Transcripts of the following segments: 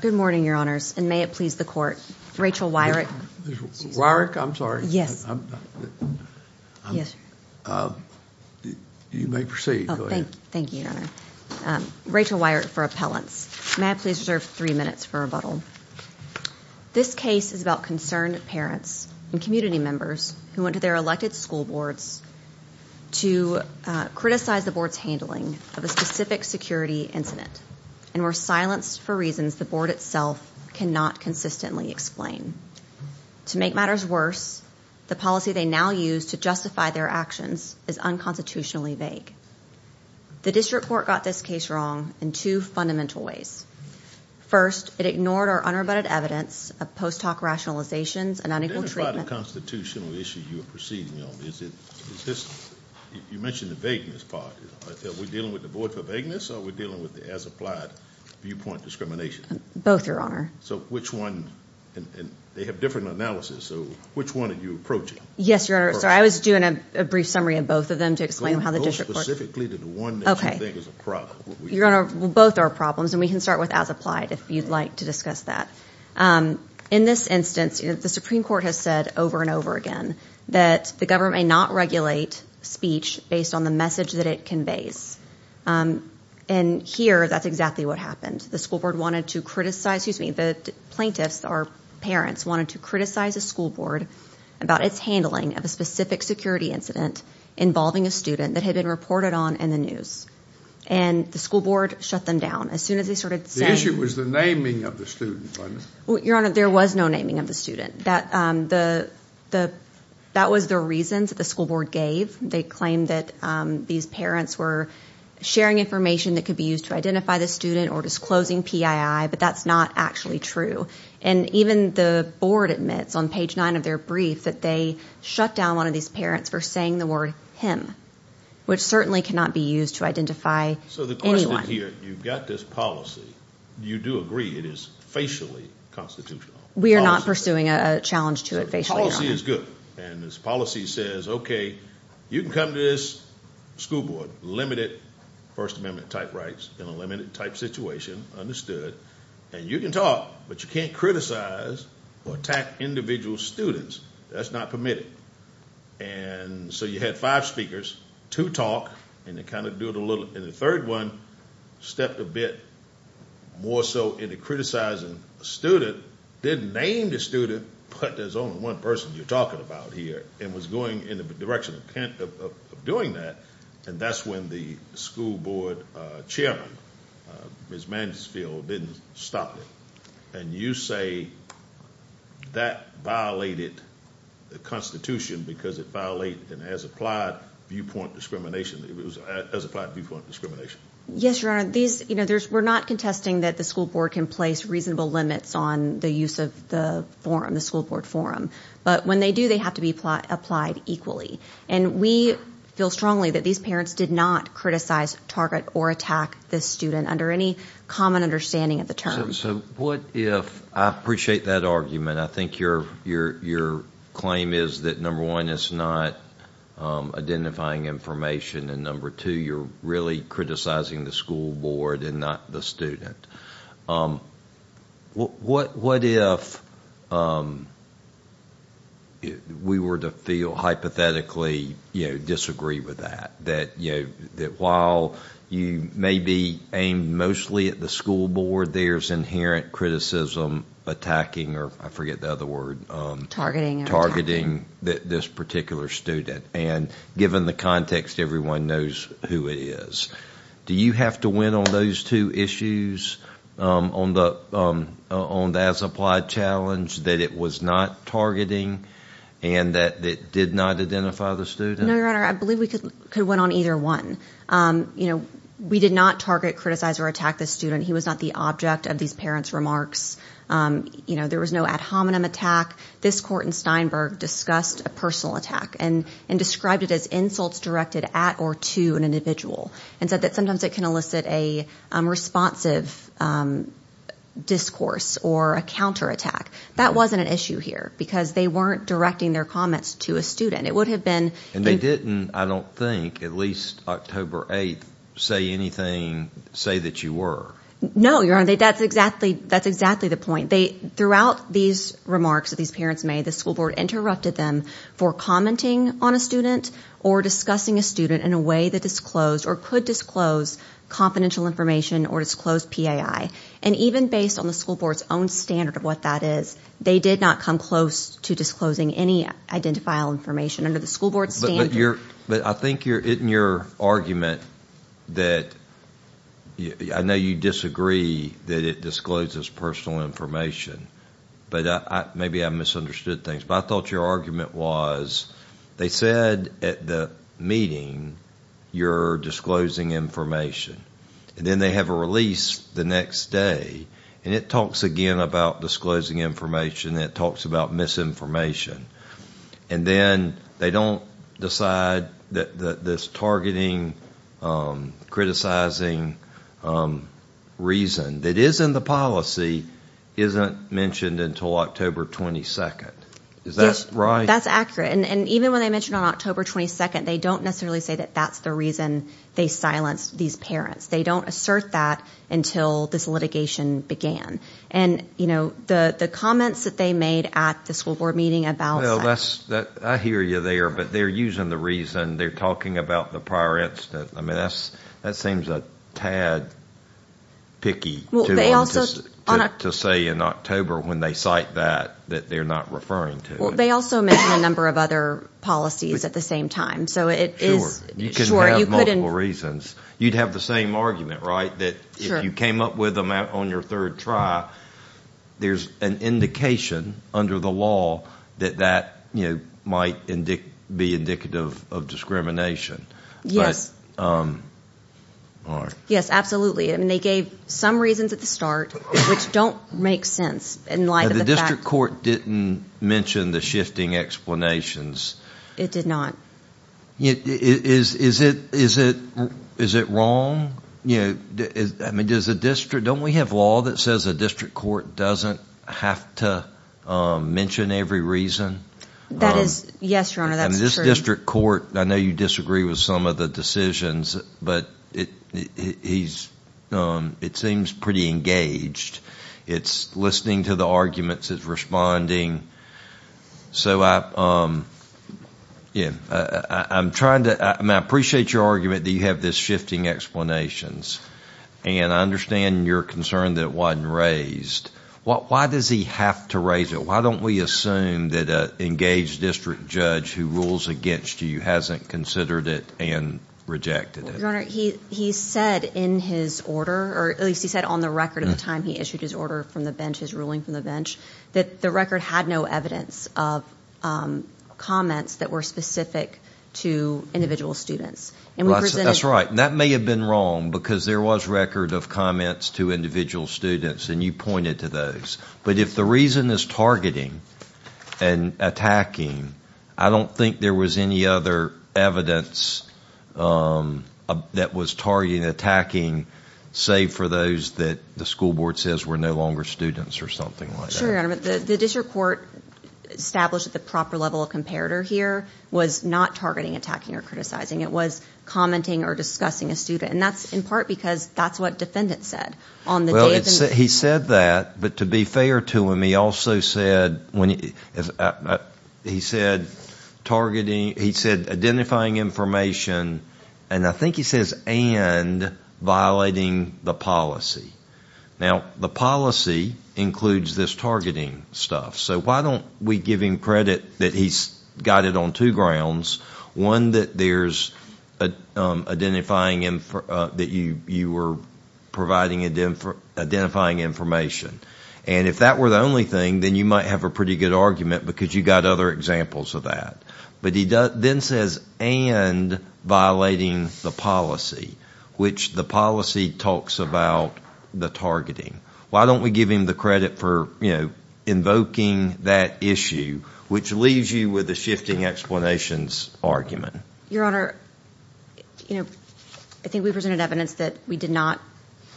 Good morning, your honors, and may it please the court, Rachel Weirich. Weirich, I'm sorry. You may proceed. Thank you, your honor. Rachel Weirich for appellants. May I please reserve three minutes for rebuttal. This case is about concerned parents and community members who went to their elected school boards to criticize the board's handling of a specific security incident and were silenced for reasons the board itself cannot consistently explain. To make matters worse, the policy they now use to justify their actions is unconstitutionally vague. The district court got this case wrong in two fundamental ways. First, it ignored our unrebutted evidence of post-talk rationalizations and unequal treatment. What is the constitutional issue you are proceeding on? You mentioned the vagueness part. Are we dealing with the void for vagueness or are we dealing with the as-applied viewpoint discrimination? Both, your honor. So which one? They have different analysis, so which one are you approaching? Yes, your honor. Sorry, I was doing a brief summary of both of them to explain how the district court Go specifically to the one that you think is a problem. Your honor, both are problems, and we can start with as-applied if you'd like to discuss that. In this instance, the Supreme Court has said over and over again that the government may not regulate speech based on the message that it conveys. And here, that's exactly what happened. The plaintiffs, our parents, wanted to criticize a school board about its handling of a specific security incident involving a student that had been reported on in the news. And the school board shut them down as soon as they started saying The issue was the naming of the student, wasn't it? Your honor, there was no naming of the student. That was the reason that the school board gave. They claimed that these parents were sharing information that could be used to identify the student or disclosing PII, but that's not actually true. And even the board admits on page 9 of their brief that they shut down one of these parents for saying the word him, which certainly cannot be used to identify anyone. So the question here, you've got this policy. You do agree it is facially constitutional? We are not pursuing a challenge to it facially, your honor. The policy is good, and this policy says, Okay, you can come to this school board, limited First Amendment type rights in a limited type situation, understood. And you can talk, but you can't criticize or attack individual students. That's not permitted. And so you had five speakers, two talk, and they kind of do it a little. And the third one stepped a bit more so into criticizing a student that didn't name the student, but there's only one person you're talking about here and was going in the direction of doing that, and that's when the school board chairman, Ms. Mansfield, didn't stop it. And you say that violated the Constitution because it violated it as applied viewpoint discrimination. It was as applied viewpoint discrimination. Yes, your honor. We're not contesting that the school board can place reasonable limits on the use of the school board forum, but when they do, they have to be applied equally. And we feel strongly that these parents did not criticize, target, or attack this student under any common understanding of the terms. So what if I appreciate that argument. I think your claim is that, number one, it's not identifying information, and, number two, you're really criticizing the school board and not the student. What if we were to feel hypothetically disagree with that, that while you may be aimed mostly at the school board, there's inherent criticism attacking, or I forget the other word. Targeting. Targeting this particular student. And given the context, everyone knows who it is. Do you have to win on those two issues, on the as applied challenge, that it was not targeting and that it did not identify the student? No, your honor. I believe we could win on either one. We did not target, criticize, or attack this student. He was not the object of these parents' remarks. There was no ad hominem attack. This court in Steinberg discussed a personal attack. And described it as insults directed at or to an individual. And said that sometimes it can elicit a responsive discourse or a counterattack. That wasn't an issue here because they weren't directing their comments to a student. It would have been. And they didn't, I don't think, at least October 8th, say anything, say that you were. No, your honor. That's exactly the point. Throughout these remarks that these parents made, the school board interrupted them for commenting on a student or discussing a student in a way that disclosed or could disclose confidential information or disclosed PAI. And even based on the school board's own standard of what that is, they did not come close to disclosing any identifiable information under the school board's standard. But I think in your argument that I know you disagree that it discloses personal information. But maybe I misunderstood things. But I thought your argument was they said at the meeting you're disclosing information. And then they have a release the next day. And it talks again about disclosing information. And it talks about misinformation. And then they don't decide that this targeting, criticizing reason that is in the policy isn't mentioned until October 22nd. Is that right? That's accurate. And even when they mention on October 22nd, they don't necessarily say that that's the reason they silenced these parents. They don't assert that until this litigation began. And, you know, the comments that they made at the school board meeting about that. Well, I hear you there. But they're using the reason. They're talking about the prior incident. I mean, that seems a tad picky. To say in October when they cite that, that they're not referring to it. Well, they also mention a number of other policies at the same time. Sure. You couldn't have multiple reasons. You'd have the same argument, right, that if you came up with them on your third try, there's an indication under the law that that might be indicative of discrimination. Yes. All right. Yes, absolutely. I mean, they gave some reasons at the start, which don't make sense in light of the fact. The district court didn't mention the shifting explanations. It did not. Is it wrong? I mean, don't we have law that says a district court doesn't have to mention every reason? Yes, Your Honor, that's true. This district court, I know you disagree with some of the decisions, but it seems pretty engaged. It's listening to the arguments. It's responding. So I'm trying to... I appreciate your argument that you have this shifting explanations, and I understand your concern that it wasn't raised. Why does he have to raise it? Why don't we assume that an engaged district judge who rules against you hasn't considered it and rejected it? Your Honor, he said in his order, or at least he said on the record at the time he issued his order from the bench, his ruling from the bench, that the record had no evidence of comments that were specific to individual students. That's right. That may have been wrong because there was record of comments to individual students, and you pointed to those. But if the reason is targeting and attacking, I don't think there was any other evidence that was targeting and attacking, save for those that the school board says were no longer students or something like that. Sure, Your Honor, but the district court established at the proper level of comparator here was not targeting, attacking, or criticizing. It was commenting or discussing a student, and that's in part because that's what defendants said. He said that, but to be fair to him, he also said identifying information, and I think he says and violating the policy. Now, the policy includes this targeting stuff, so why don't we give him credit that he's got it on two grounds, one that you were providing identifying information, and if that were the only thing, then you might have a pretty good argument because you got other examples of that. But he then says and violating the policy, which the policy talks about the targeting. Why don't we give him the credit for invoking that issue, which leaves you with a shifting explanations argument. Your Honor, I think we presented evidence that we did not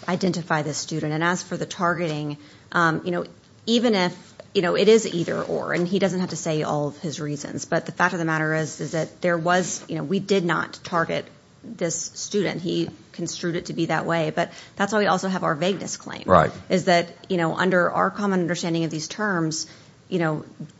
identify this student, and as for the targeting, even if it is either or, and he doesn't have to say all of his reasons, but the fact of the matter is that we did not target this student. He construed it to be that way, but that's why we also have our vagueness claim, is that under our common understanding of these terms,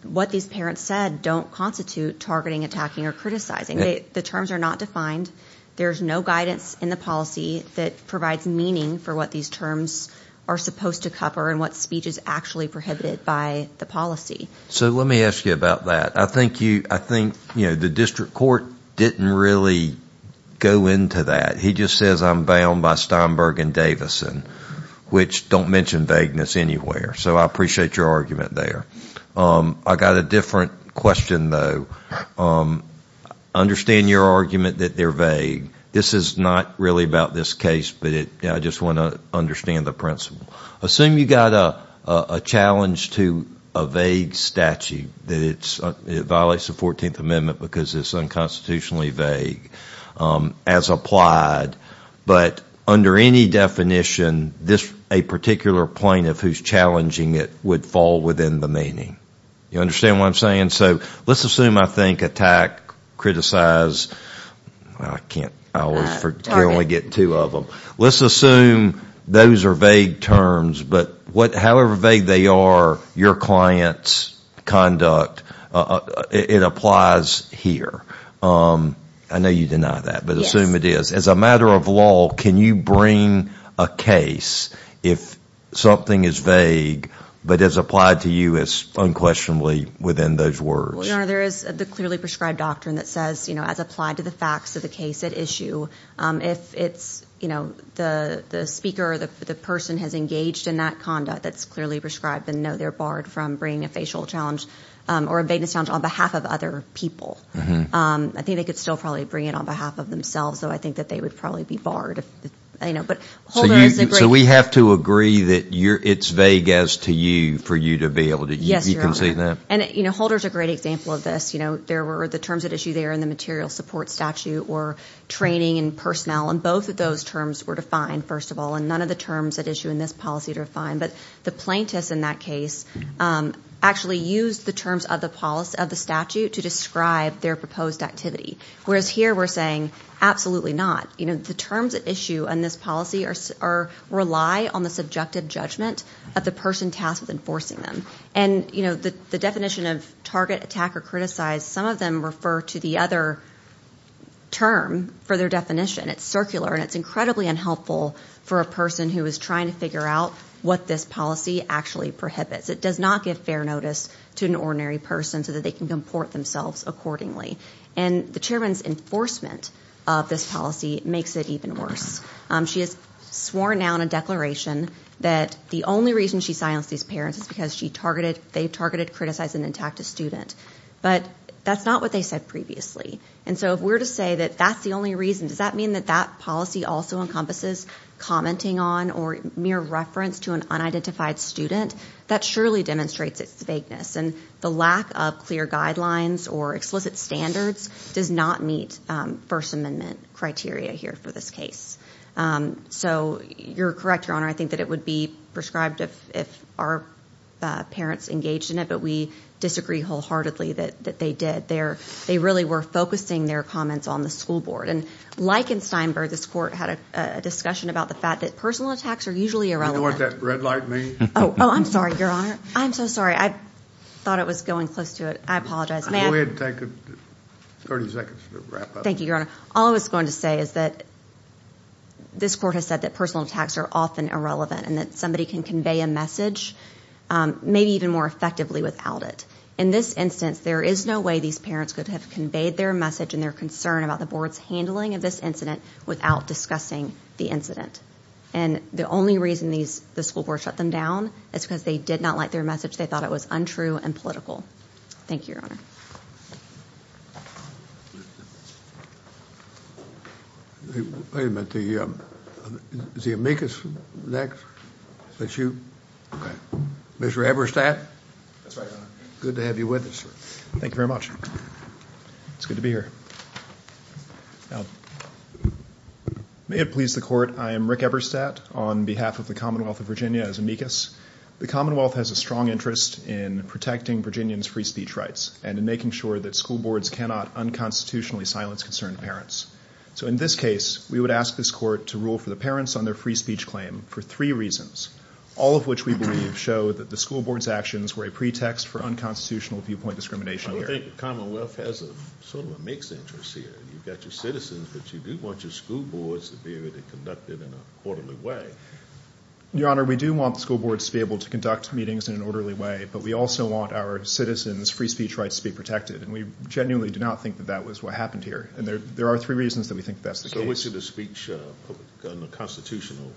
what these parents said don't constitute targeting, attacking, or criticizing. The terms are not defined. There's no guidance in the policy that provides meaning for what these terms are supposed to cover and what speech is actually prohibited by the policy. So let me ask you about that. I think the district court didn't really go into that. He just says I'm bound by Steinberg and Davison, which don't mention vagueness anywhere. So I appreciate your argument there. I've got a different question, though. I understand your argument that they're vague. This is not really about this case, but I just want to understand the principle. Assume you've got a challenge to a vague statute that violates the 14th Amendment because it's unconstitutionally vague as applied, but under any definition, a particular plaintiff who's challenging it would fall within the meaning. You understand what I'm saying? So let's assume, I think, attack, criticize. I can only get two of them. Let's assume those are vague terms, but however vague they are, your client's conduct, it applies here. I know you deny that, but assume it is. As a matter of law, can you bring a case if something is vague but is applied to you as unquestionably within those words? Your Honor, there is the clearly prescribed doctrine that says, as applied to the facts of the case at issue, if the speaker or the person has engaged in that conduct that's clearly prescribed, then, no, they're barred from bringing a facial challenge or a vagueness challenge on behalf of other people. I think they could still probably bring it on behalf of themselves, though I think that they would probably be barred. So we have to agree that it's vague as to you for you to be able to. Yes, Your Honor. You can see that? Holder's a great example of this. The terms at issue there in the material support statute were training and personnel, and both of those terms were defined, first of all, and none of the terms at issue in this policy are defined. But the plaintiffs in that case actually used the terms of the statute to describe their proposed activity, whereas here we're saying absolutely not. The terms at issue in this policy rely on the subjective judgment of the person tasked with enforcing them. And the definition of target, attack, or criticize, some of them refer to the other term for their definition. It's circular, and it's incredibly unhelpful for a person who is trying to figure out what this policy actually prohibits. It does not give fair notice to an ordinary person so that they can comport themselves accordingly. And the chairman's enforcement of this policy makes it even worse. She has sworn now in a declaration that the only reason she silenced these parents is because they targeted, criticized, and attacked a student. But that's not what they said previously. And so if we're to say that that's the only reason, does that mean that that policy also encompasses commenting on or mere reference to an unidentified student? That surely demonstrates its vagueness. And the lack of clear guidelines or explicit standards does not meet First Amendment criteria here for this case. So you're correct, Your Honor. I think that it would be prescribed if our parents engaged in it, but we disagree wholeheartedly that they did. They really were focusing their comments on the school board. And like in Steinberg, this court had a discussion about the fact that personal attacks are usually irrelevant. Do you know what that red light means? Oh, I'm sorry, Your Honor. I'm so sorry. I thought it was going close to it. I apologize. Go ahead and take 30 seconds to wrap up. Thank you, Your Honor. All I was going to say is that this court has said that personal attacks are often irrelevant and that somebody can convey a message maybe even more effectively without it. In this instance, there is no way these parents could have conveyed their message and their concern about the board's handling of this incident without discussing the incident. And the only reason the school board shut them down is because they did not like their message. They thought it was untrue and political. Thank you, Your Honor. Wait a minute. Is the amicus next? Mr. Eberstadt? That's right, Your Honor. Good to have you with us. Thank you very much. It's good to be here. May it please the court, I am Rick Eberstadt on behalf of the Commonwealth of Virginia as amicus. The Commonwealth has a strong interest in protecting Virginians' free speech rights and in making sure that school boards cannot unconstitutionally silence concerned parents. So in this case, we would ask this court to rule for the parents on their free speech claim for three reasons, all of which we believe show that the school board's actions were a pretext for unconstitutional viewpoint discrimination here. I think the Commonwealth has sort of a mixed interest here. You've got your citizens, but you do want your school boards to be able to conduct it in an orderly way. Your Honor, we do want school boards to be able to conduct meetings in an orderly way, but we also want our citizens' free speech rights to be protected, and we genuinely do not think that that was what happened here. And there are three reasons that we think that's the case. So is it a speech under constitutional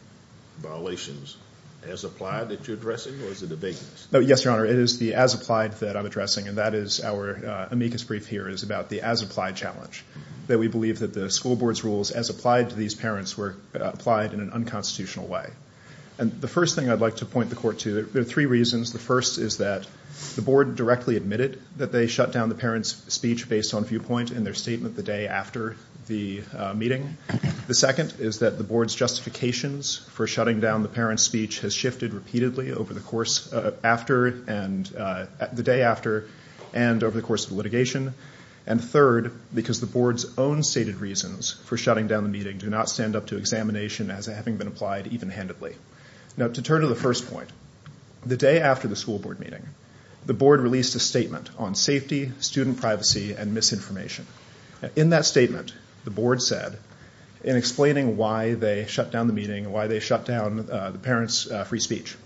violations as applied that you're addressing, or is it a vagueness? Yes, Your Honor, it is the as applied that I'm addressing, and that is our amicus brief here is about the as applied challenge, that we believe that the school board's rules as applied to these parents were applied in an unconstitutional way. The first thing I'd like to point the court to, there are three reasons. The first is that the board directly admitted that they shut down the parents' speech based on viewpoint in their statement the day after the meeting. The second is that the board's justifications for shutting down the parents' speech has shifted repeatedly over the day after and over the course of litigation. And third, because the board's own stated reasons for shutting down the meeting do not stand up to examination as having been applied even-handedly. Now, to turn to the first point, the day after the school board meeting, the board released a statement on safety, student privacy, and misinformation. In that statement, the board said, in explaining why they shut down the meeting and why they shut down the parents' free speech,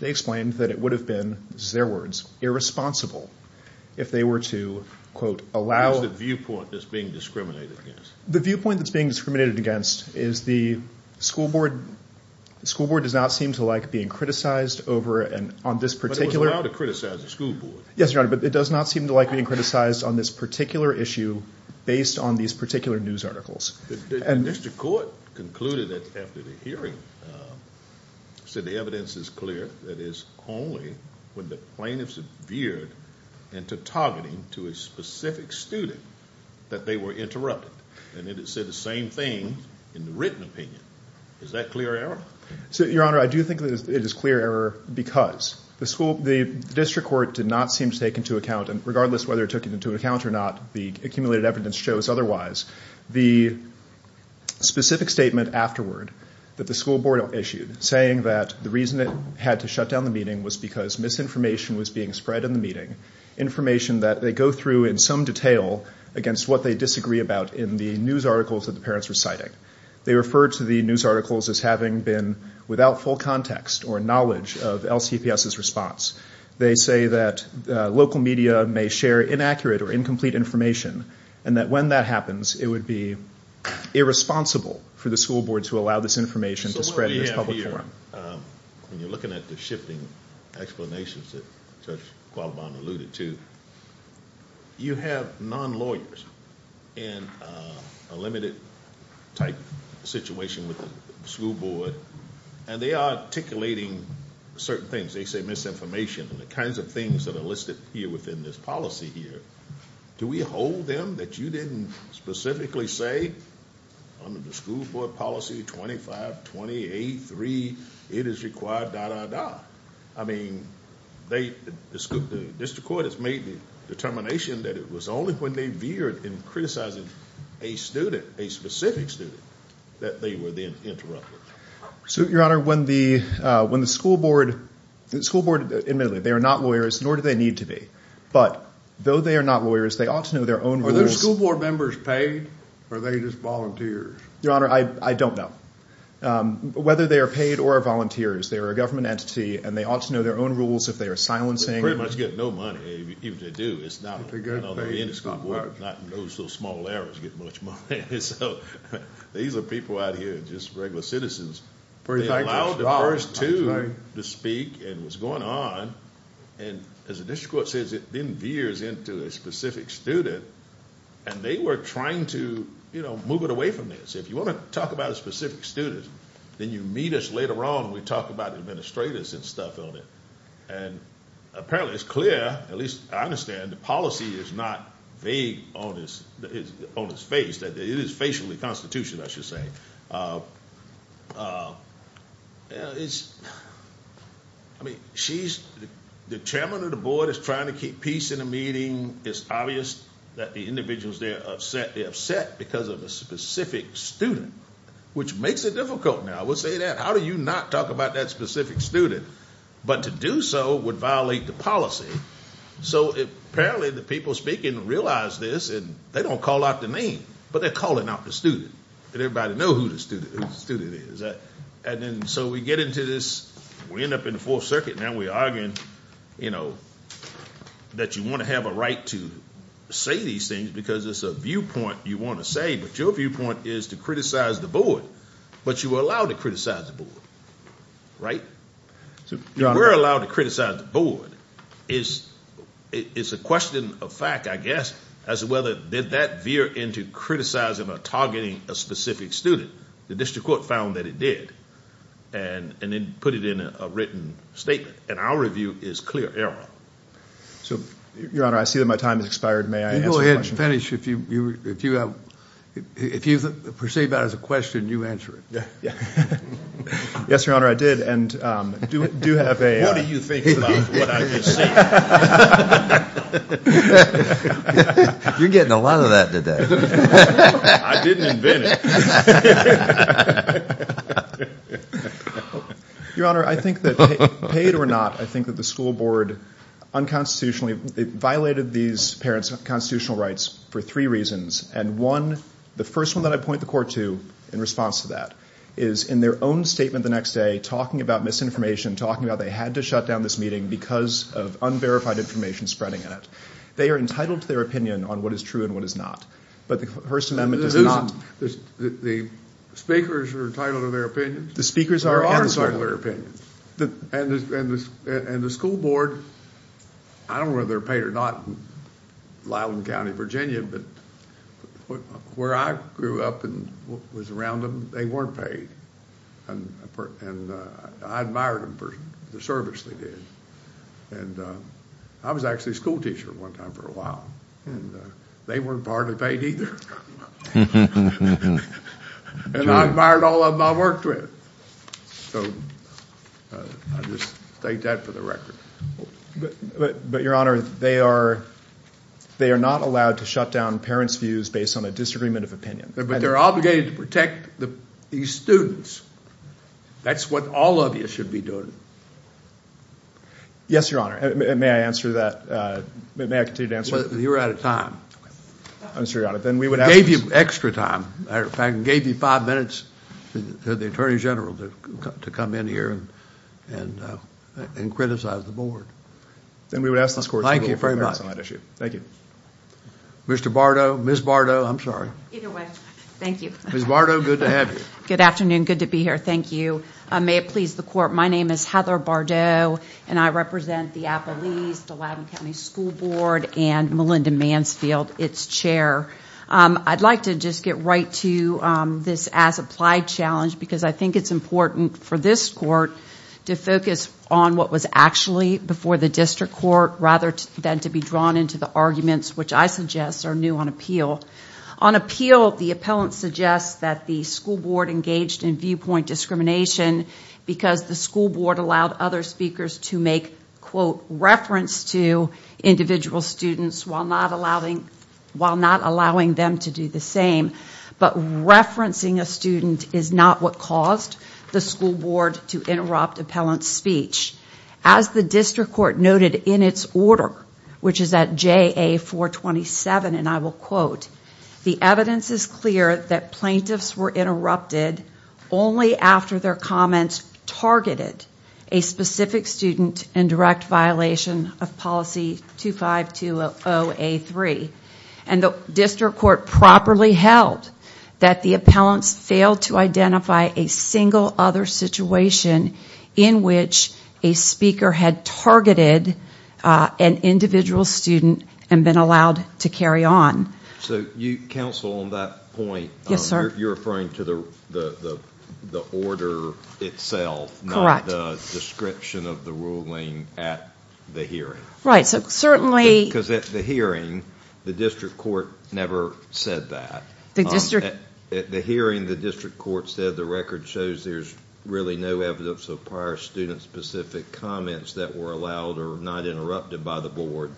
they explained that it would have been, this is their words, irresponsible if they were to, quote, allow. What is the viewpoint that's being discriminated against? The viewpoint that's being discriminated against is the school board does not seem to like being criticized over and on this particular. But it was allowed to criticize the school board. Yes, Your Honor, but it does not seem to like being criticized on this particular issue based on these particular news articles. The district court concluded that after the hearing said the evidence is clear, that is only when the plaintiff's veered into targeting to a specific student that they were interrupted. And it said the same thing in the written opinion. Is that clear error? Your Honor, I do think that it is clear error because the school, the district court did not seem to take into account, and regardless of whether it took it into account or not, the accumulated evidence shows otherwise, the specific statement afterward that the school board issued, saying that the reason it had to shut down the meeting was because misinformation was being spread in the meeting, information that they go through in some detail against what they disagree about in the news articles that the parents were citing. They referred to the news articles as having been without full context or knowledge of LCPS's response. They say that local media may share inaccurate or incomplete information and that when that happens it would be irresponsible for the school board to allow this information to spread in this public forum. So what we have here, when you're looking at the shifting explanations that Judge Qualibon alluded to, you have non-lawyers in a limited type situation with the school board, and they are articulating certain things. They say misinformation and the kinds of things that are listed here within this policy here. Do we hold them that you didn't specifically say under the school board policy 2528.3 it is required, da, da, da? I mean, the district court has made the determination that it was only when they veered in criticizing a student, a specific student, that they were then interrupted. Your Honor, when the school board admittedly, they are not lawyers, nor do they need to be. But though they are not lawyers, they ought to know their own rules. Are those school board members paid, or are they just volunteers? Your Honor, I don't know. Whether they are paid or are volunteers, they are a government entity, and they ought to know their own rules if they are silencing. They pretty much get no money. Even if they do, it's not on the end of school board. Those little small errors get much money. So these are people out here, just regular citizens. They allowed the first two to speak, and what's going on, and as the district court says, it then veers into a specific student, and they were trying to move it away from this. If you want to talk about a specific student, then you meet us later on when we talk about administrators and stuff on it. Apparently, it's clear, at least I understand, the policy is not vague on its face, that it is facially constitutional, I should say. The chairman of the board is trying to keep peace in the meeting. It's obvious that the individuals there are upset. They're upset because of a specific student, which makes it difficult now. I will say that. How do you not talk about that specific student? But to do so would violate the policy. So apparently, the people speaking realize this, and they don't call out the name, but they're calling out the student. Everybody knows who the student is. So we get into this. We end up in the Fourth Circuit, and we argue that you want to have a right to say these things because it's a viewpoint you want to say, but your viewpoint is to criticize the board, but you were allowed to criticize the board, right? If you were allowed to criticize the board, it's a question of fact, I guess, as to whether that veered into criticizing or targeting a specific student. The district court found that it did, and then put it in a written statement, and our review is clear error. Your Honor, I see that my time has expired. May I answer a question? You go ahead and finish. If you perceive that as a question, you answer it. Yes, Your Honor, I did. What do you think about what I just said? You're getting a lot of that today. I didn't invent it. Your Honor, I think that paid or not, I think that the school board unconstitutionally violated these parents' constitutional rights for three reasons, and one, the first one that I point the court to in response to that is in their own statement the next day, talking about misinformation, talking about they had to shut down this meeting because of unverified information spreading in it. They are entitled to their opinion on what is true and what is not, but the First Amendment does not. The speakers are entitled to their opinions? The speakers are. There are entitled to their opinions, and the school board, I don't know whether they're paid or not in Lyland County, Virginia, but where I grew up and was around them, they weren't paid, and I admired the service they did. I was actually a schoolteacher one time for a while, and they weren't partly paid either, and I admired all of them I worked with. So I just state that for the record. But, Your Honor, they are not allowed to shut down parents' views based on a disagreement of opinion. But they're obligated to protect these students. That's what all of you should be doing. Yes, Your Honor. May I answer that? May I continue to answer? You're out of time. I'm sorry, Your Honor. I gave you extra time. In fact, I gave you five minutes for the Attorney General to come in here and criticize the board. Thank you very much. Thank you. Mr. Bardot, Ms. Bardot, I'm sorry. Either way, thank you. Ms. Bardot, good to have you. Good afternoon. Good to be here. Thank you. May it please the Court, my name is Heather Bardot, and I represent the Appalese-Dulabin County School Board and Melinda Mansfield, its chair. I'd like to just get right to this as-applied challenge because I think it's important for this court to focus on what was actually before the district court rather than to be drawn into the arguments, which I suggest are new on appeal. On appeal, the appellant suggests that the school board engaged in viewpoint discrimination because the school board allowed other speakers to make, quote, reference to individual students while not allowing them to do the same. But referencing a student is not what caused the school board to interrupt appellant's speech. As the district court noted in its order, which is at JA-427, and I will quote, the evidence is clear that plaintiffs were interrupted only after their comments targeted a specific student in direct violation of policy 2520A3. And the district court properly held that the appellants failed to identify a single other situation in which a speaker had targeted an individual student and been allowed to carry on. So counsel, on that point, you're referring to the order itself, not the description of the ruling at the hearing. Right. Because at the hearing, the district court never said that. At the hearing, the district court said the record shows there's really no evidence of prior student-specific comments that were allowed or not interrupted by the board.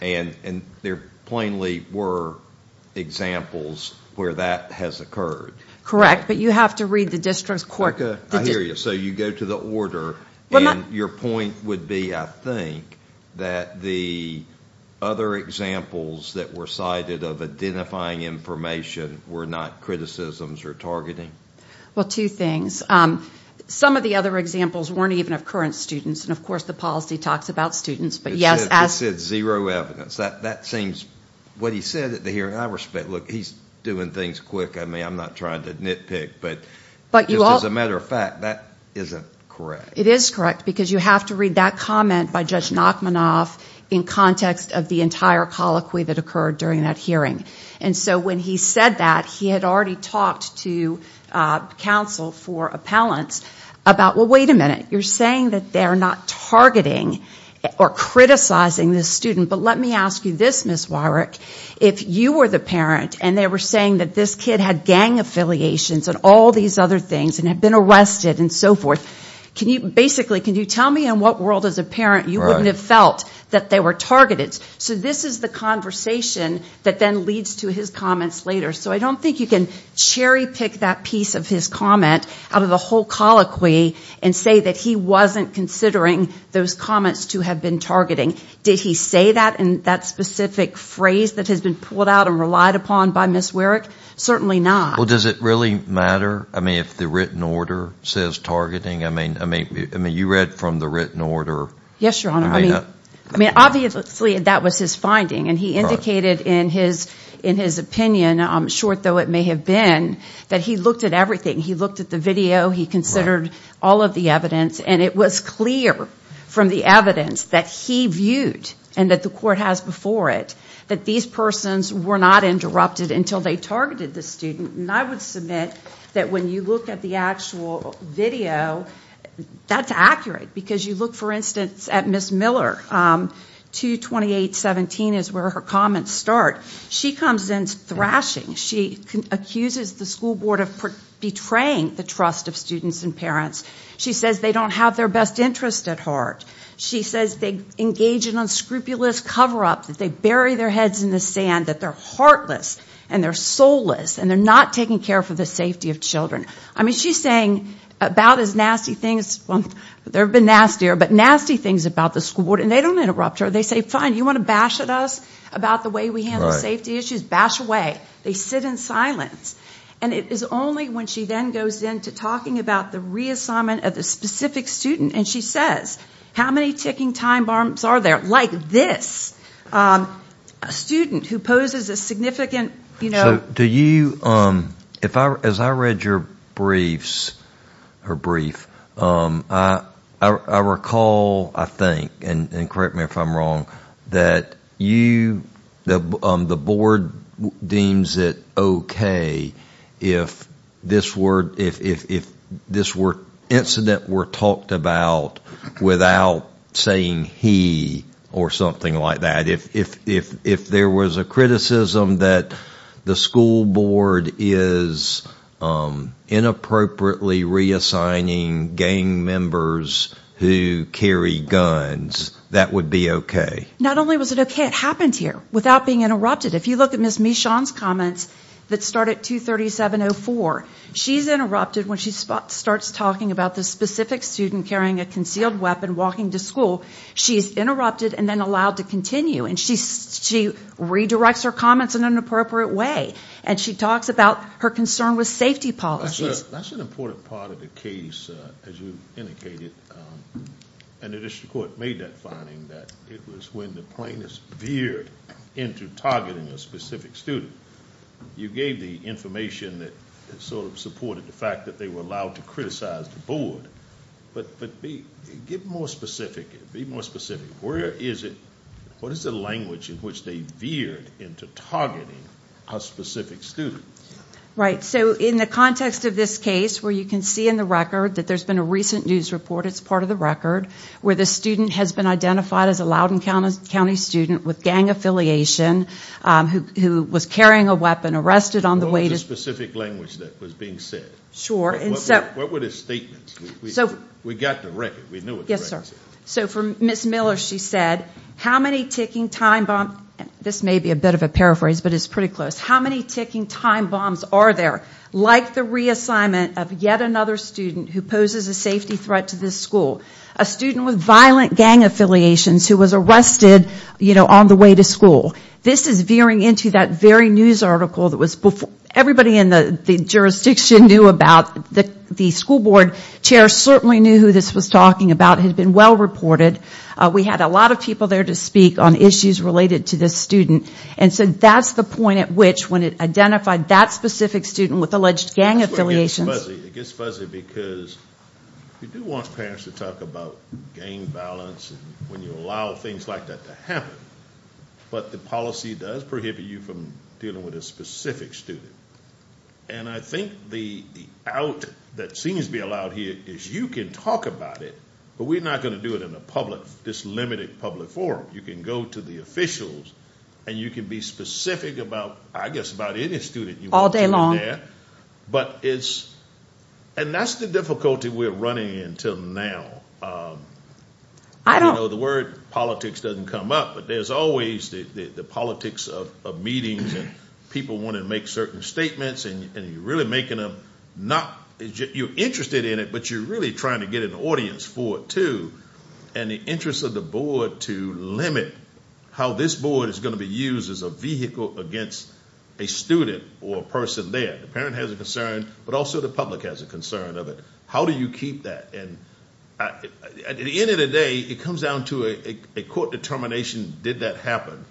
And there plainly were examples where that has occurred. Correct. But you have to read the district's court. Erica, I hear you. So you go to the order, and your point would be, I think, that the other examples that were cited of identifying information were not criticisms or targeting. Well, two things. Some of the other examples weren't even of current students, and of course the policy talks about students. It said zero evidence. That seems, what he said at the hearing, I respect. Look, he's doing things quick. I mean, I'm not trying to nitpick. But just as a matter of fact, that isn't correct. It is correct, because you have to read that comment by Judge Nachmanoff in context of the entire colloquy that occurred during that hearing. And so when he said that, he had already talked to counsel for appellants about, well, wait a minute, you're saying that they're not targeting or criticizing this student. But let me ask you this, Ms. Warick. If you were the parent and they were saying that this kid had gang affiliations and all these other things and had been arrested and so forth, basically, can you tell me in what world as a parent you wouldn't have felt that they were targeted? So this is the conversation that then leads to his comments later. So I don't think you can cherry-pick that piece of his comment out of the whole colloquy and say that he wasn't considering those comments to have been targeting. Did he say that in that specific phrase that has been pulled out and relied upon by Ms. Warick? Certainly not. Well, does it really matter, I mean, if the written order says targeting? I mean, you read from the written order. Yes, Your Honor. I mean, obviously that was his finding. And he indicated in his opinion, short though it may have been, that he looked at everything. He looked at the video. He considered all of the evidence. And it was clear from the evidence that he viewed and that the court has before it that these persons were not interrupted until they targeted the student. And I would submit that when you look at the actual video, that's accurate because you look, for instance, at Ms. Miller. 22817 is where her comments start. She comes in thrashing. She accuses the school board of betraying the trust of students and parents. She says they don't have their best interest at heart. She says they engage in unscrupulous cover-up, that they bury their heads in the sand, that they're heartless and they're soulless and they're not taking care for the safety of children. I mean, she's saying about as nasty things, well, there have been nastier, but nasty things about the school board. And they don't interrupt her. They say, fine, you want to bash at us about the way we handle safety issues? Bash away. They sit in silence. And it is only when she then goes into talking about the reassignment of the specific student, and she says, how many ticking time bombs are there like this? A student who poses a significant, you know. So do you, if I, as I read your briefs, her brief, I recall, I think, and correct me if I'm wrong, that you, the board deems it okay if this incident were talked about without saying he or something like that? If there was a criticism that the school board is inappropriately reassigning gang members who carry guns, that would be okay? Not only was it okay, it happened here without being interrupted. If you look at Ms. Michon's comments that start at 237.04, she's interrupted when she starts talking about the specific student carrying a concealed weapon walking to school. She's interrupted and then allowed to continue. And she redirects her comments in an inappropriate way. And she talks about her concern with safety policies. That's an important part of the case, as you indicated. And the district court made that finding, that it was when the plaintiffs veered into targeting a specific student. You gave the information that sort of supported the fact that they were allowed to criticize the board. But be more specific. Be more specific. Where is it, what is the language in which they veered into targeting a specific student? Right. So in the context of this case, where you can see in the record that there's been a recent news report, it's part of the record, where the student has been identified as a Loudoun County student with gang affiliation who was carrying a weapon, arrested on the way to school. What was the specific language that was being said? Sure. What were the statements? We got the record. We knew what the record said. Yes, sir. So for Ms. Miller, she said, how many ticking time bombs, this may be a bit of a paraphrase, but it's pretty close, how many ticking time bombs are there, like the reassignment of yet another student who poses a safety threat to this school? A student with violent gang affiliations who was arrested, you know, on the way to school. This is veering into that very news article that was before. Everybody in the jurisdiction knew about. The school board chair certainly knew who this was talking about. It had been well reported. We had a lot of people there to speak on issues related to this student. And so that's the point at which, when it identified that specific student with alleged gang affiliations. It gets fuzzy because you do want parents to talk about gang violence when you allow things like that to happen. But the policy does prohibit you from dealing with a specific student. And I think the out that seems to be allowed here is you can talk about it, but we're not going to do it in this limited public forum. You can go to the officials, and you can be specific about, I guess, about any student you want to be there. But it's – and that's the difficulty we're running into now. I don't know the word politics doesn't come up, but there's always the politics of meetings and people want to make certain statements and you're really making them not – you're interested in it, but you're really trying to get an audience for it too. And the interest of the board to limit how this board is going to be used as a vehicle against a student or a person there. The parent has a concern, but also the public has a concern of it. How do you keep that? And at the end of the day, it comes down to a court determination. Did that happen?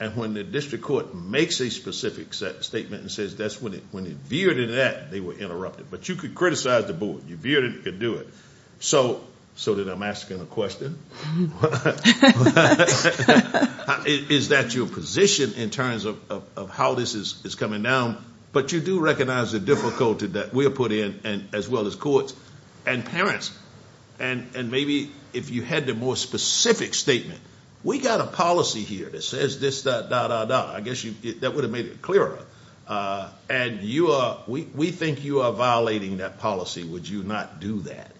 And when the district court makes a specific statement and says that's when it – when it veered into that, they were interrupted. But you could criticize the board. You veered it, you could do it. So then I'm asking a question. Is that your position in terms of how this is coming down? But you do recognize the difficulty that we are put in as well as courts and parents. And maybe if you had the more specific statement, we got a policy here that says this, that, da, da, da. I guess that would have made it clearer. And you are – we think you are violating that policy. Would you not do that?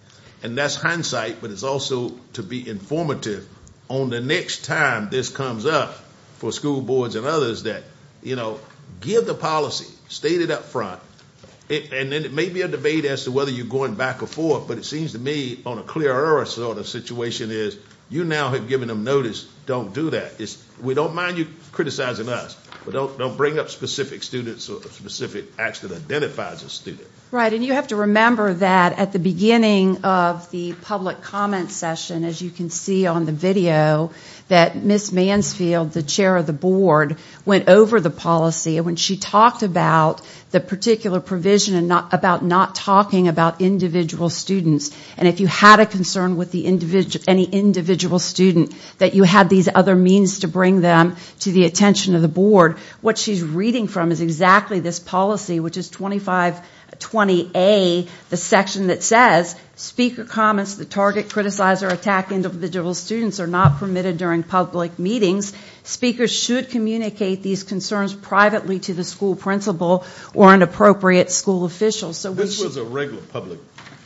And that's hindsight, but it's also to be informative on the next time this comes up for school boards and others that, you know, give the policy, state it up front. And then it may be a debate as to whether you're going back or forth, but it seems to me on a clearer sort of situation is you now have given them notice, don't do that. We don't mind you criticizing us, but don't bring up specific students or specific acts that identifies a student. Right, and you have to remember that at the beginning of the public comment session, as you can see on the video, that Ms. Mansfield, the chair of the board, went over the policy and when she talked about the particular provision and about not talking about individual students, and if you had a concern with any individual student that you had these other means to bring them to the attention of the board, what she's reading from is exactly this policy, which is 2520A, the section that says speaker comments that target, criticize, or attack individual students are not permitted during public meetings. Speakers should communicate these concerns privately to the school principal or an appropriate school official. This was a regular public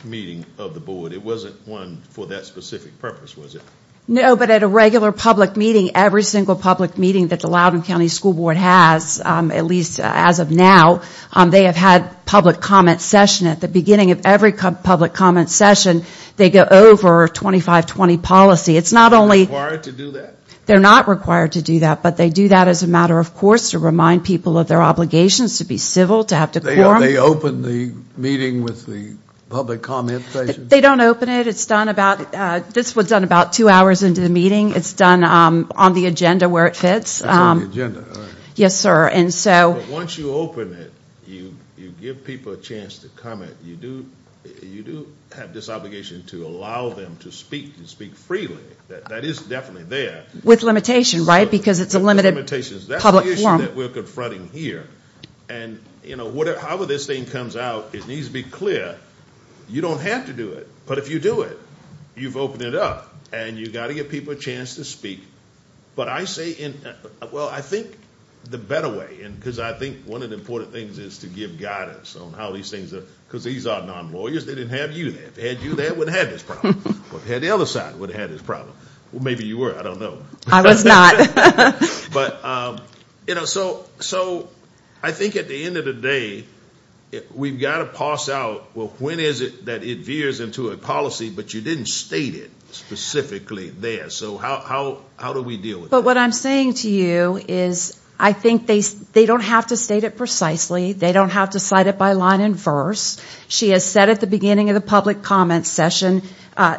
meeting of the board. It wasn't one for that specific purpose, was it? No, but at a regular public meeting, every single public meeting that the Loudoun County School Board has, at least as of now, they have had public comment session. At the beginning of every public comment session, they go over 2520 policy. It's not only... Required to do that? They're not required to do that, but they do that as a matter of course to remind people of their obligations to be civil, to have decorum. They open the meeting with the public comment session? They don't open it. This was done about two hours into the meeting. It's done on the agenda where it fits. It's on the agenda, all right. Yes, sir. Once you open it, you give people a chance to comment. You do have this obligation to allow them to speak and speak freely. That is definitely there. With limitation, right? Because it's a limited public forum. That's the issue that we're confronting here. However this thing comes out, it needs to be clear. You don't have to do it, but if you do it, you've opened it up. And you've got to give people a chance to speak. But I say, well, I think the better way, because I think one of the important things is to give guidance on how these things are, because these are non-lawyers. They didn't have you there. If they had you there, they wouldn't have had this problem. If they had the other side, they wouldn't have had this problem. Well, maybe you were. I don't know. I was not. So I think at the end of the day, we've got to parse out, well, when is it that it veers into a policy, but you didn't state it specifically there. So how do we deal with that? But what I'm saying to you is I think they don't have to state it precisely. They don't have to cite it by line and verse. She has said at the beginning of the public comment session,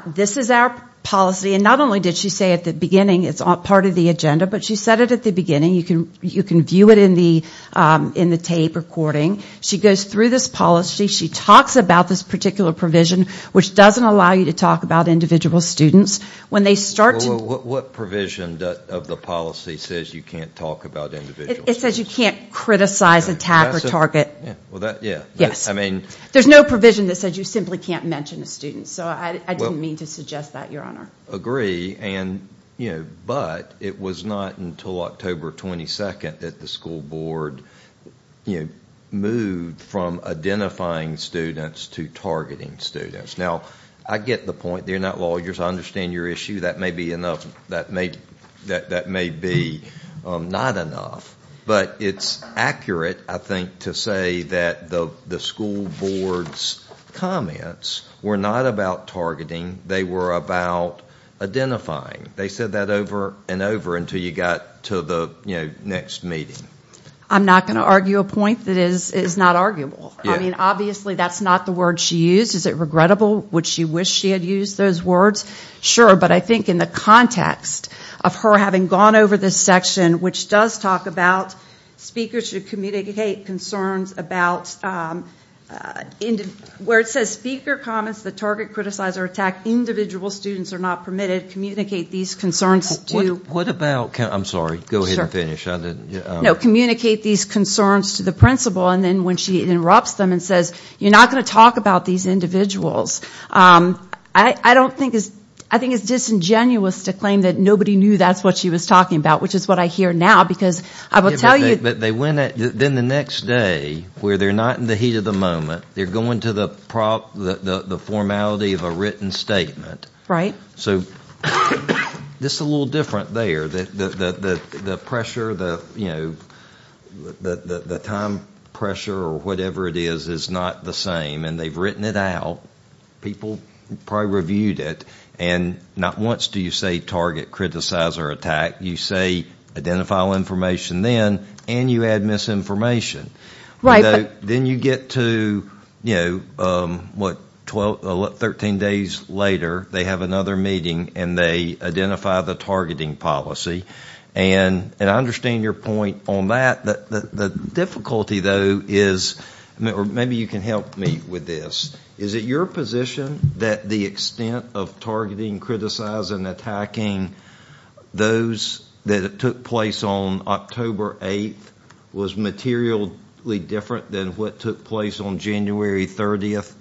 this is our policy. And not only did she say at the beginning it's part of the agenda, but she said it at the beginning. You can view it in the tape recording. She goes through this policy. She talks about this particular provision, which doesn't allow you to talk about individual students. Well, what provision of the policy says you can't talk about individual students? It says you can't criticize, attack, or target. Well, that, yeah. Yes. There's no provision that says you simply can't mention a student. So I didn't mean to suggest that, Your Honor. Agree. But it was not until October 22 that the school board moved from identifying students to targeting students. Now, I get the point. They're not lawyers. I understand your issue. That may be not enough. But it's accurate, I think, to say that the school board's comments were not about targeting. They were about identifying. They said that over and over until you got to the next meeting. I'm not going to argue a point that is not arguable. I mean, obviously that's not the word she used. Is it regrettable? Would she wish she had used those words? Sure. But I think in the context of her having gone over this section, which does talk about speakers should communicate concerns about where it says speaker comments that target, criticize, or attack individual students are not permitted, communicate these concerns to. What about. I'm sorry. Go ahead and finish. No. Communicate these concerns to the principal. And then when she interrupts them and says, you're not going to talk about these individuals. I don't think it's. I think it's disingenuous to claim that nobody knew that's what she was talking about, which is what I hear now. Because I will tell you. Then the next day where they're not in the heat of the moment, they're going to the prop, the formality of a written statement. Right. So this is a little different there. The pressure, the time pressure or whatever it is, is not the same. And they've written it out. People probably reviewed it. And not once do you say target, criticize, or attack. You say, identify all information then. And you add misinformation. Right. Then you get to, you know, what, 12, 13 days later, they have another meeting and they identify the targeting policy. And I understand your point on that. The difficulty, though, is, or maybe you can help me with this. Is it your position that the extent of targeting, criticizing, attacking those that took place on October 8th was materially different than what took place on January 30th,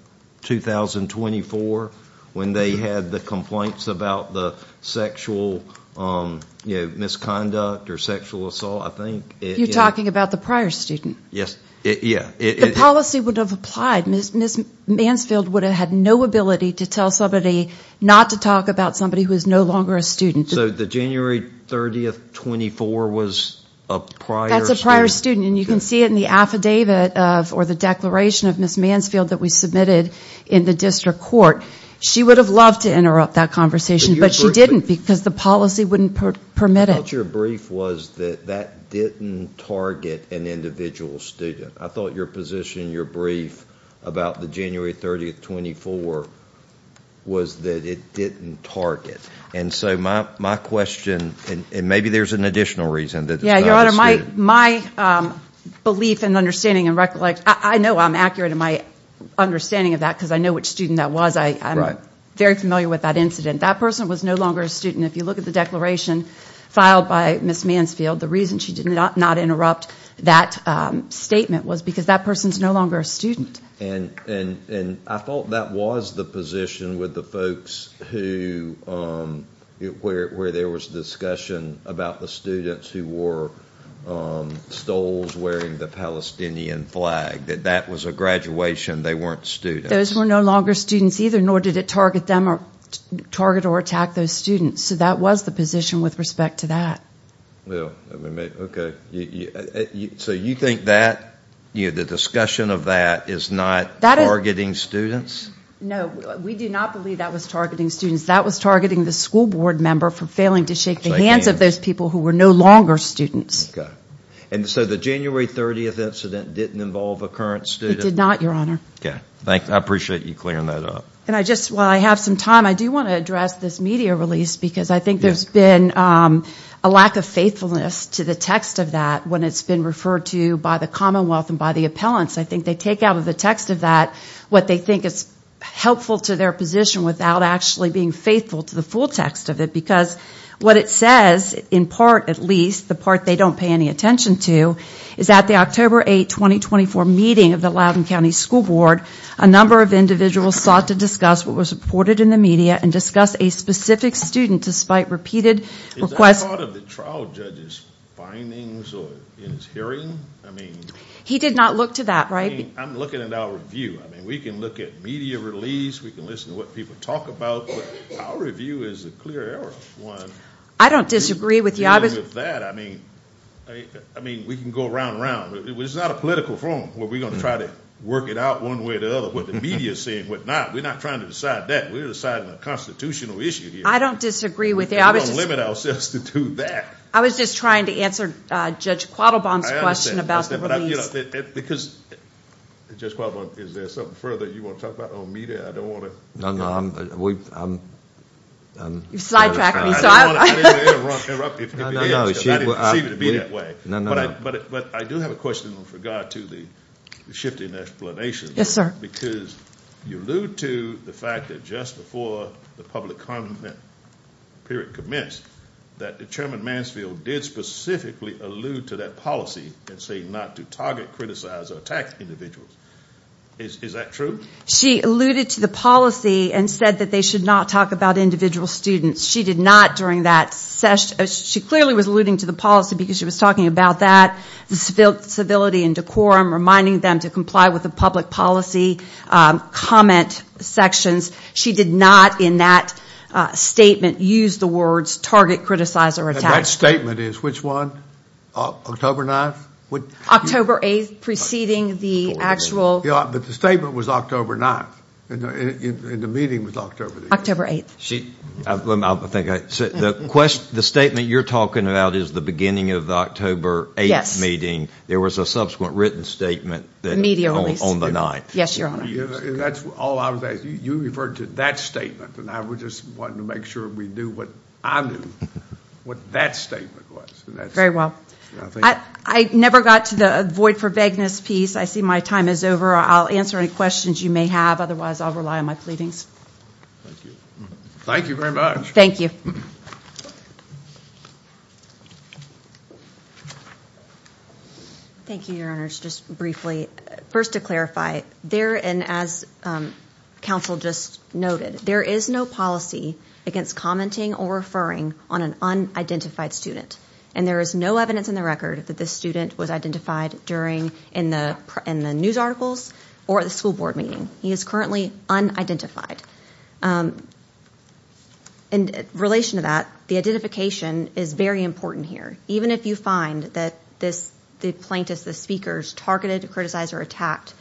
2024, when they had the complaints about the sexual, you know, misconduct or sexual assault? I think. You're talking about the prior student. Yes. Yeah. The policy would have applied. Ms. Mansfield would have had no ability to tell somebody not to talk about somebody who is no longer a student. So the January 30th, 24th was a prior student. That's a prior student. And you can see it in the affidavit of, or the declaration of Ms. Mansfield that we submitted in the district court. She would have loved to interrupt that conversation. But she didn't because the policy wouldn't permit it. I thought your brief was that that didn't target an individual student. I thought your position in your brief about the January 30th, 24th was that it didn't target. And so my question, and maybe there's an additional reason that it's not a student. Yeah, Your Honor, my belief and understanding and recollection, I know I'm accurate in my understanding of that because I know which student that was. I'm very familiar with that incident. That person was no longer a student. If you look at the declaration filed by Ms. Mansfield, the reason she did not interrupt that statement was because that person is no longer a student. And I thought that was the position with the folks who, where there was discussion about the students who wore stoles wearing the Palestinian flag, that that was a graduation. They weren't students. Those were no longer students either, nor did it target them or target or attack those students. So that was the position with respect to that. Okay. So you think that the discussion of that is not targeting students? No. We do not believe that was targeting students. That was targeting the school board member for failing to shake the hands of those people who were no longer students. Okay. And so the January 30th incident didn't involve a current student? It did not, Your Honor. Okay. I appreciate you clearing that up. And I just, while I have some time, I do want to address this media release because I think there's been a lack of faithfulness to the text of that when it's been referred to by the Commonwealth and by the appellants. I think they take out of the text of that what they think is helpful to their position without actually being faithful to the full text of it. Because what it says, in part at least, the part they don't pay any attention to, is that the October 8, 2024 meeting of the Loudoun County School Board, a number of individuals sought to discuss what was reported in the media and discuss a specific student despite repeated requests. Is that part of the trial judge's findings in his hearing? He did not look to that, right? I'm looking at our review. We can look at media release. We can listen to what people talk about. Our review is a clear error. I don't disagree with you. Even with that, I mean, we can go round and round. It's not a political forum where we're going to try to work it out one way or the other, what the media is saying and what not. We're not trying to decide that. We're deciding a constitutional issue here. I don't disagree with you. We're going to limit ourselves to do that. I was just trying to answer Judge Quattlebaum's question about the release. I understand. Because, Judge Quattlebaum, is there something further you want to talk about on media? I don't want to— No, no. You sidetracked me. I didn't want to interrupt you. I didn't perceive it to be that way. But I do have a question with regard to the shifting explanation. Yes, sir. Because you allude to the fact that just before the public comment period commenced, that Chairman Mansfield did specifically allude to that policy and say not to target, criticize, or attack individuals. Is that true? She alluded to the policy and said that they should not talk about individual students. She did not during that session. She clearly was alluding to the policy because she was talking about that, the civility and decorum, reminding them to comply with the public policy comment sections. She did not in that statement use the words target, criticize, or attack. That statement is which one? October 9th? October 8th preceding the actual— But the statement was October 9th. And the meeting was October 8th. October 8th. The statement you're talking about is the beginning of the October 8th meeting. There was a subsequent written statement on the 9th. Yes, Your Honor. You referred to that statement, and I just wanted to make sure we knew what I knew what that statement was. Very well. I never got to the void for vagueness piece. I see my time is over. I'll answer any questions you may have. Otherwise, I'll rely on my pleadings. Thank you very much. Thank you. Thank you, Your Honors. Just briefly, first to clarify, there, and as counsel just noted, there is no policy against commenting or referring on an unidentified student, and there is no evidence in the record that this student was identified during— in the news articles or at the school board meeting. He is currently unidentified. In relation to that, the identification is very important here. Even if you find that the plaintiffs, the speakers, targeted, criticized, or attacked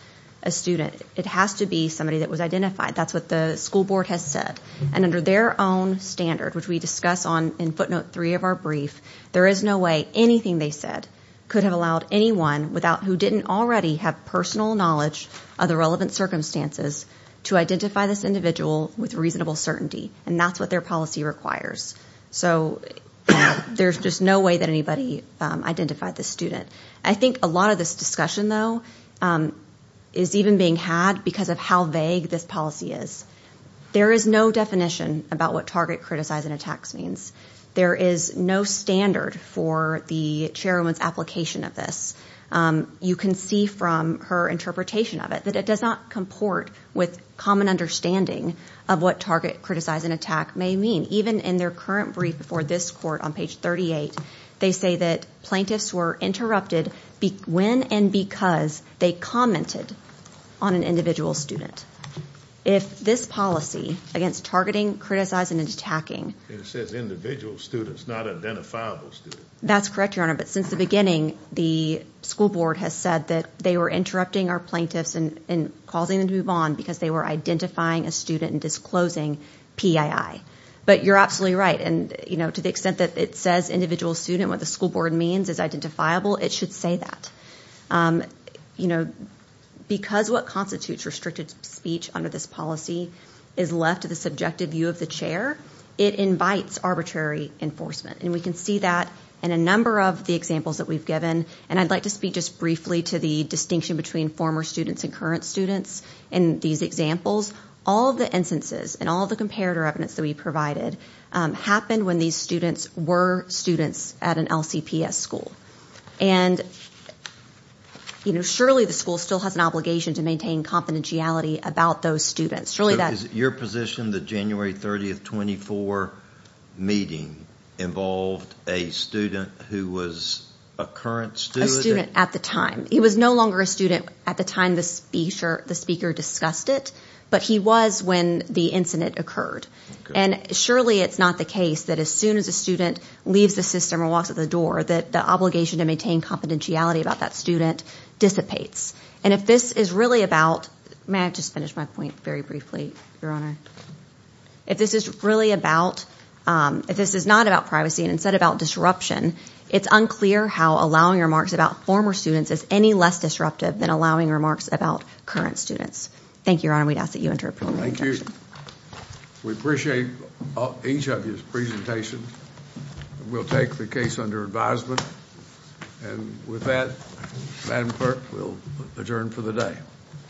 a student, it has to be somebody that was identified. That's what the school board has said. And under their own standard, which we discuss in footnote three of our brief, there is no way anything they said could have allowed anyone without— circumstances to identify this individual with reasonable certainty, and that's what their policy requires. So there's just no way that anybody identified this student. I think a lot of this discussion, though, is even being had because of how vague this policy is. There is no definition about what target, criticize, and attacks means. There is no standard for the chairwoman's application of this. You can see from her interpretation of it that it does not comport with common understanding of what target, criticize, and attack may mean. Even in their current brief before this court on page 38, they say that plaintiffs were interrupted when and because they commented on an individual student. If this policy against targeting, criticizing, and attacking— It says individual students, not identifiable students. That's correct, Your Honor. But since the beginning, the school board has said that they were interrupting our plaintiffs and causing them to move on because they were identifying a student and disclosing PII. But you're absolutely right. To the extent that it says individual student, what the school board means, is identifiable, it should say that. Because what constitutes restricted speech under this policy is left to the subjective view of the chair, it invites arbitrary enforcement. And we can see that in a number of the examples that we've given. And I'd like to speak just briefly to the distinction between former students and current students. In these examples, all the instances and all the comparator evidence that we provided happened when these students were students at an LCPS school. And surely the school still has an obligation to maintain confidentiality about those students. So is it your position that January 30, 2024 meeting involved a student who was a current student? A student at the time. He was no longer a student at the time the speaker discussed it, but he was when the incident occurred. And surely it's not the case that as soon as a student leaves the system or walks out the door that the obligation to maintain confidentiality about that student dissipates. And if this is really about, may I just finish my point very briefly, Your Honor? If this is really about, if this is not about privacy and instead about disruption, it's unclear how allowing remarks about former students is any less disruptive than allowing remarks about current students. Thank you, Your Honor. We'd ask that you enter a preliminary objection. Thank you. We appreciate each of your presentations. We'll take the case under advisement. And with that, Madam Clerk, we'll adjourn for the day.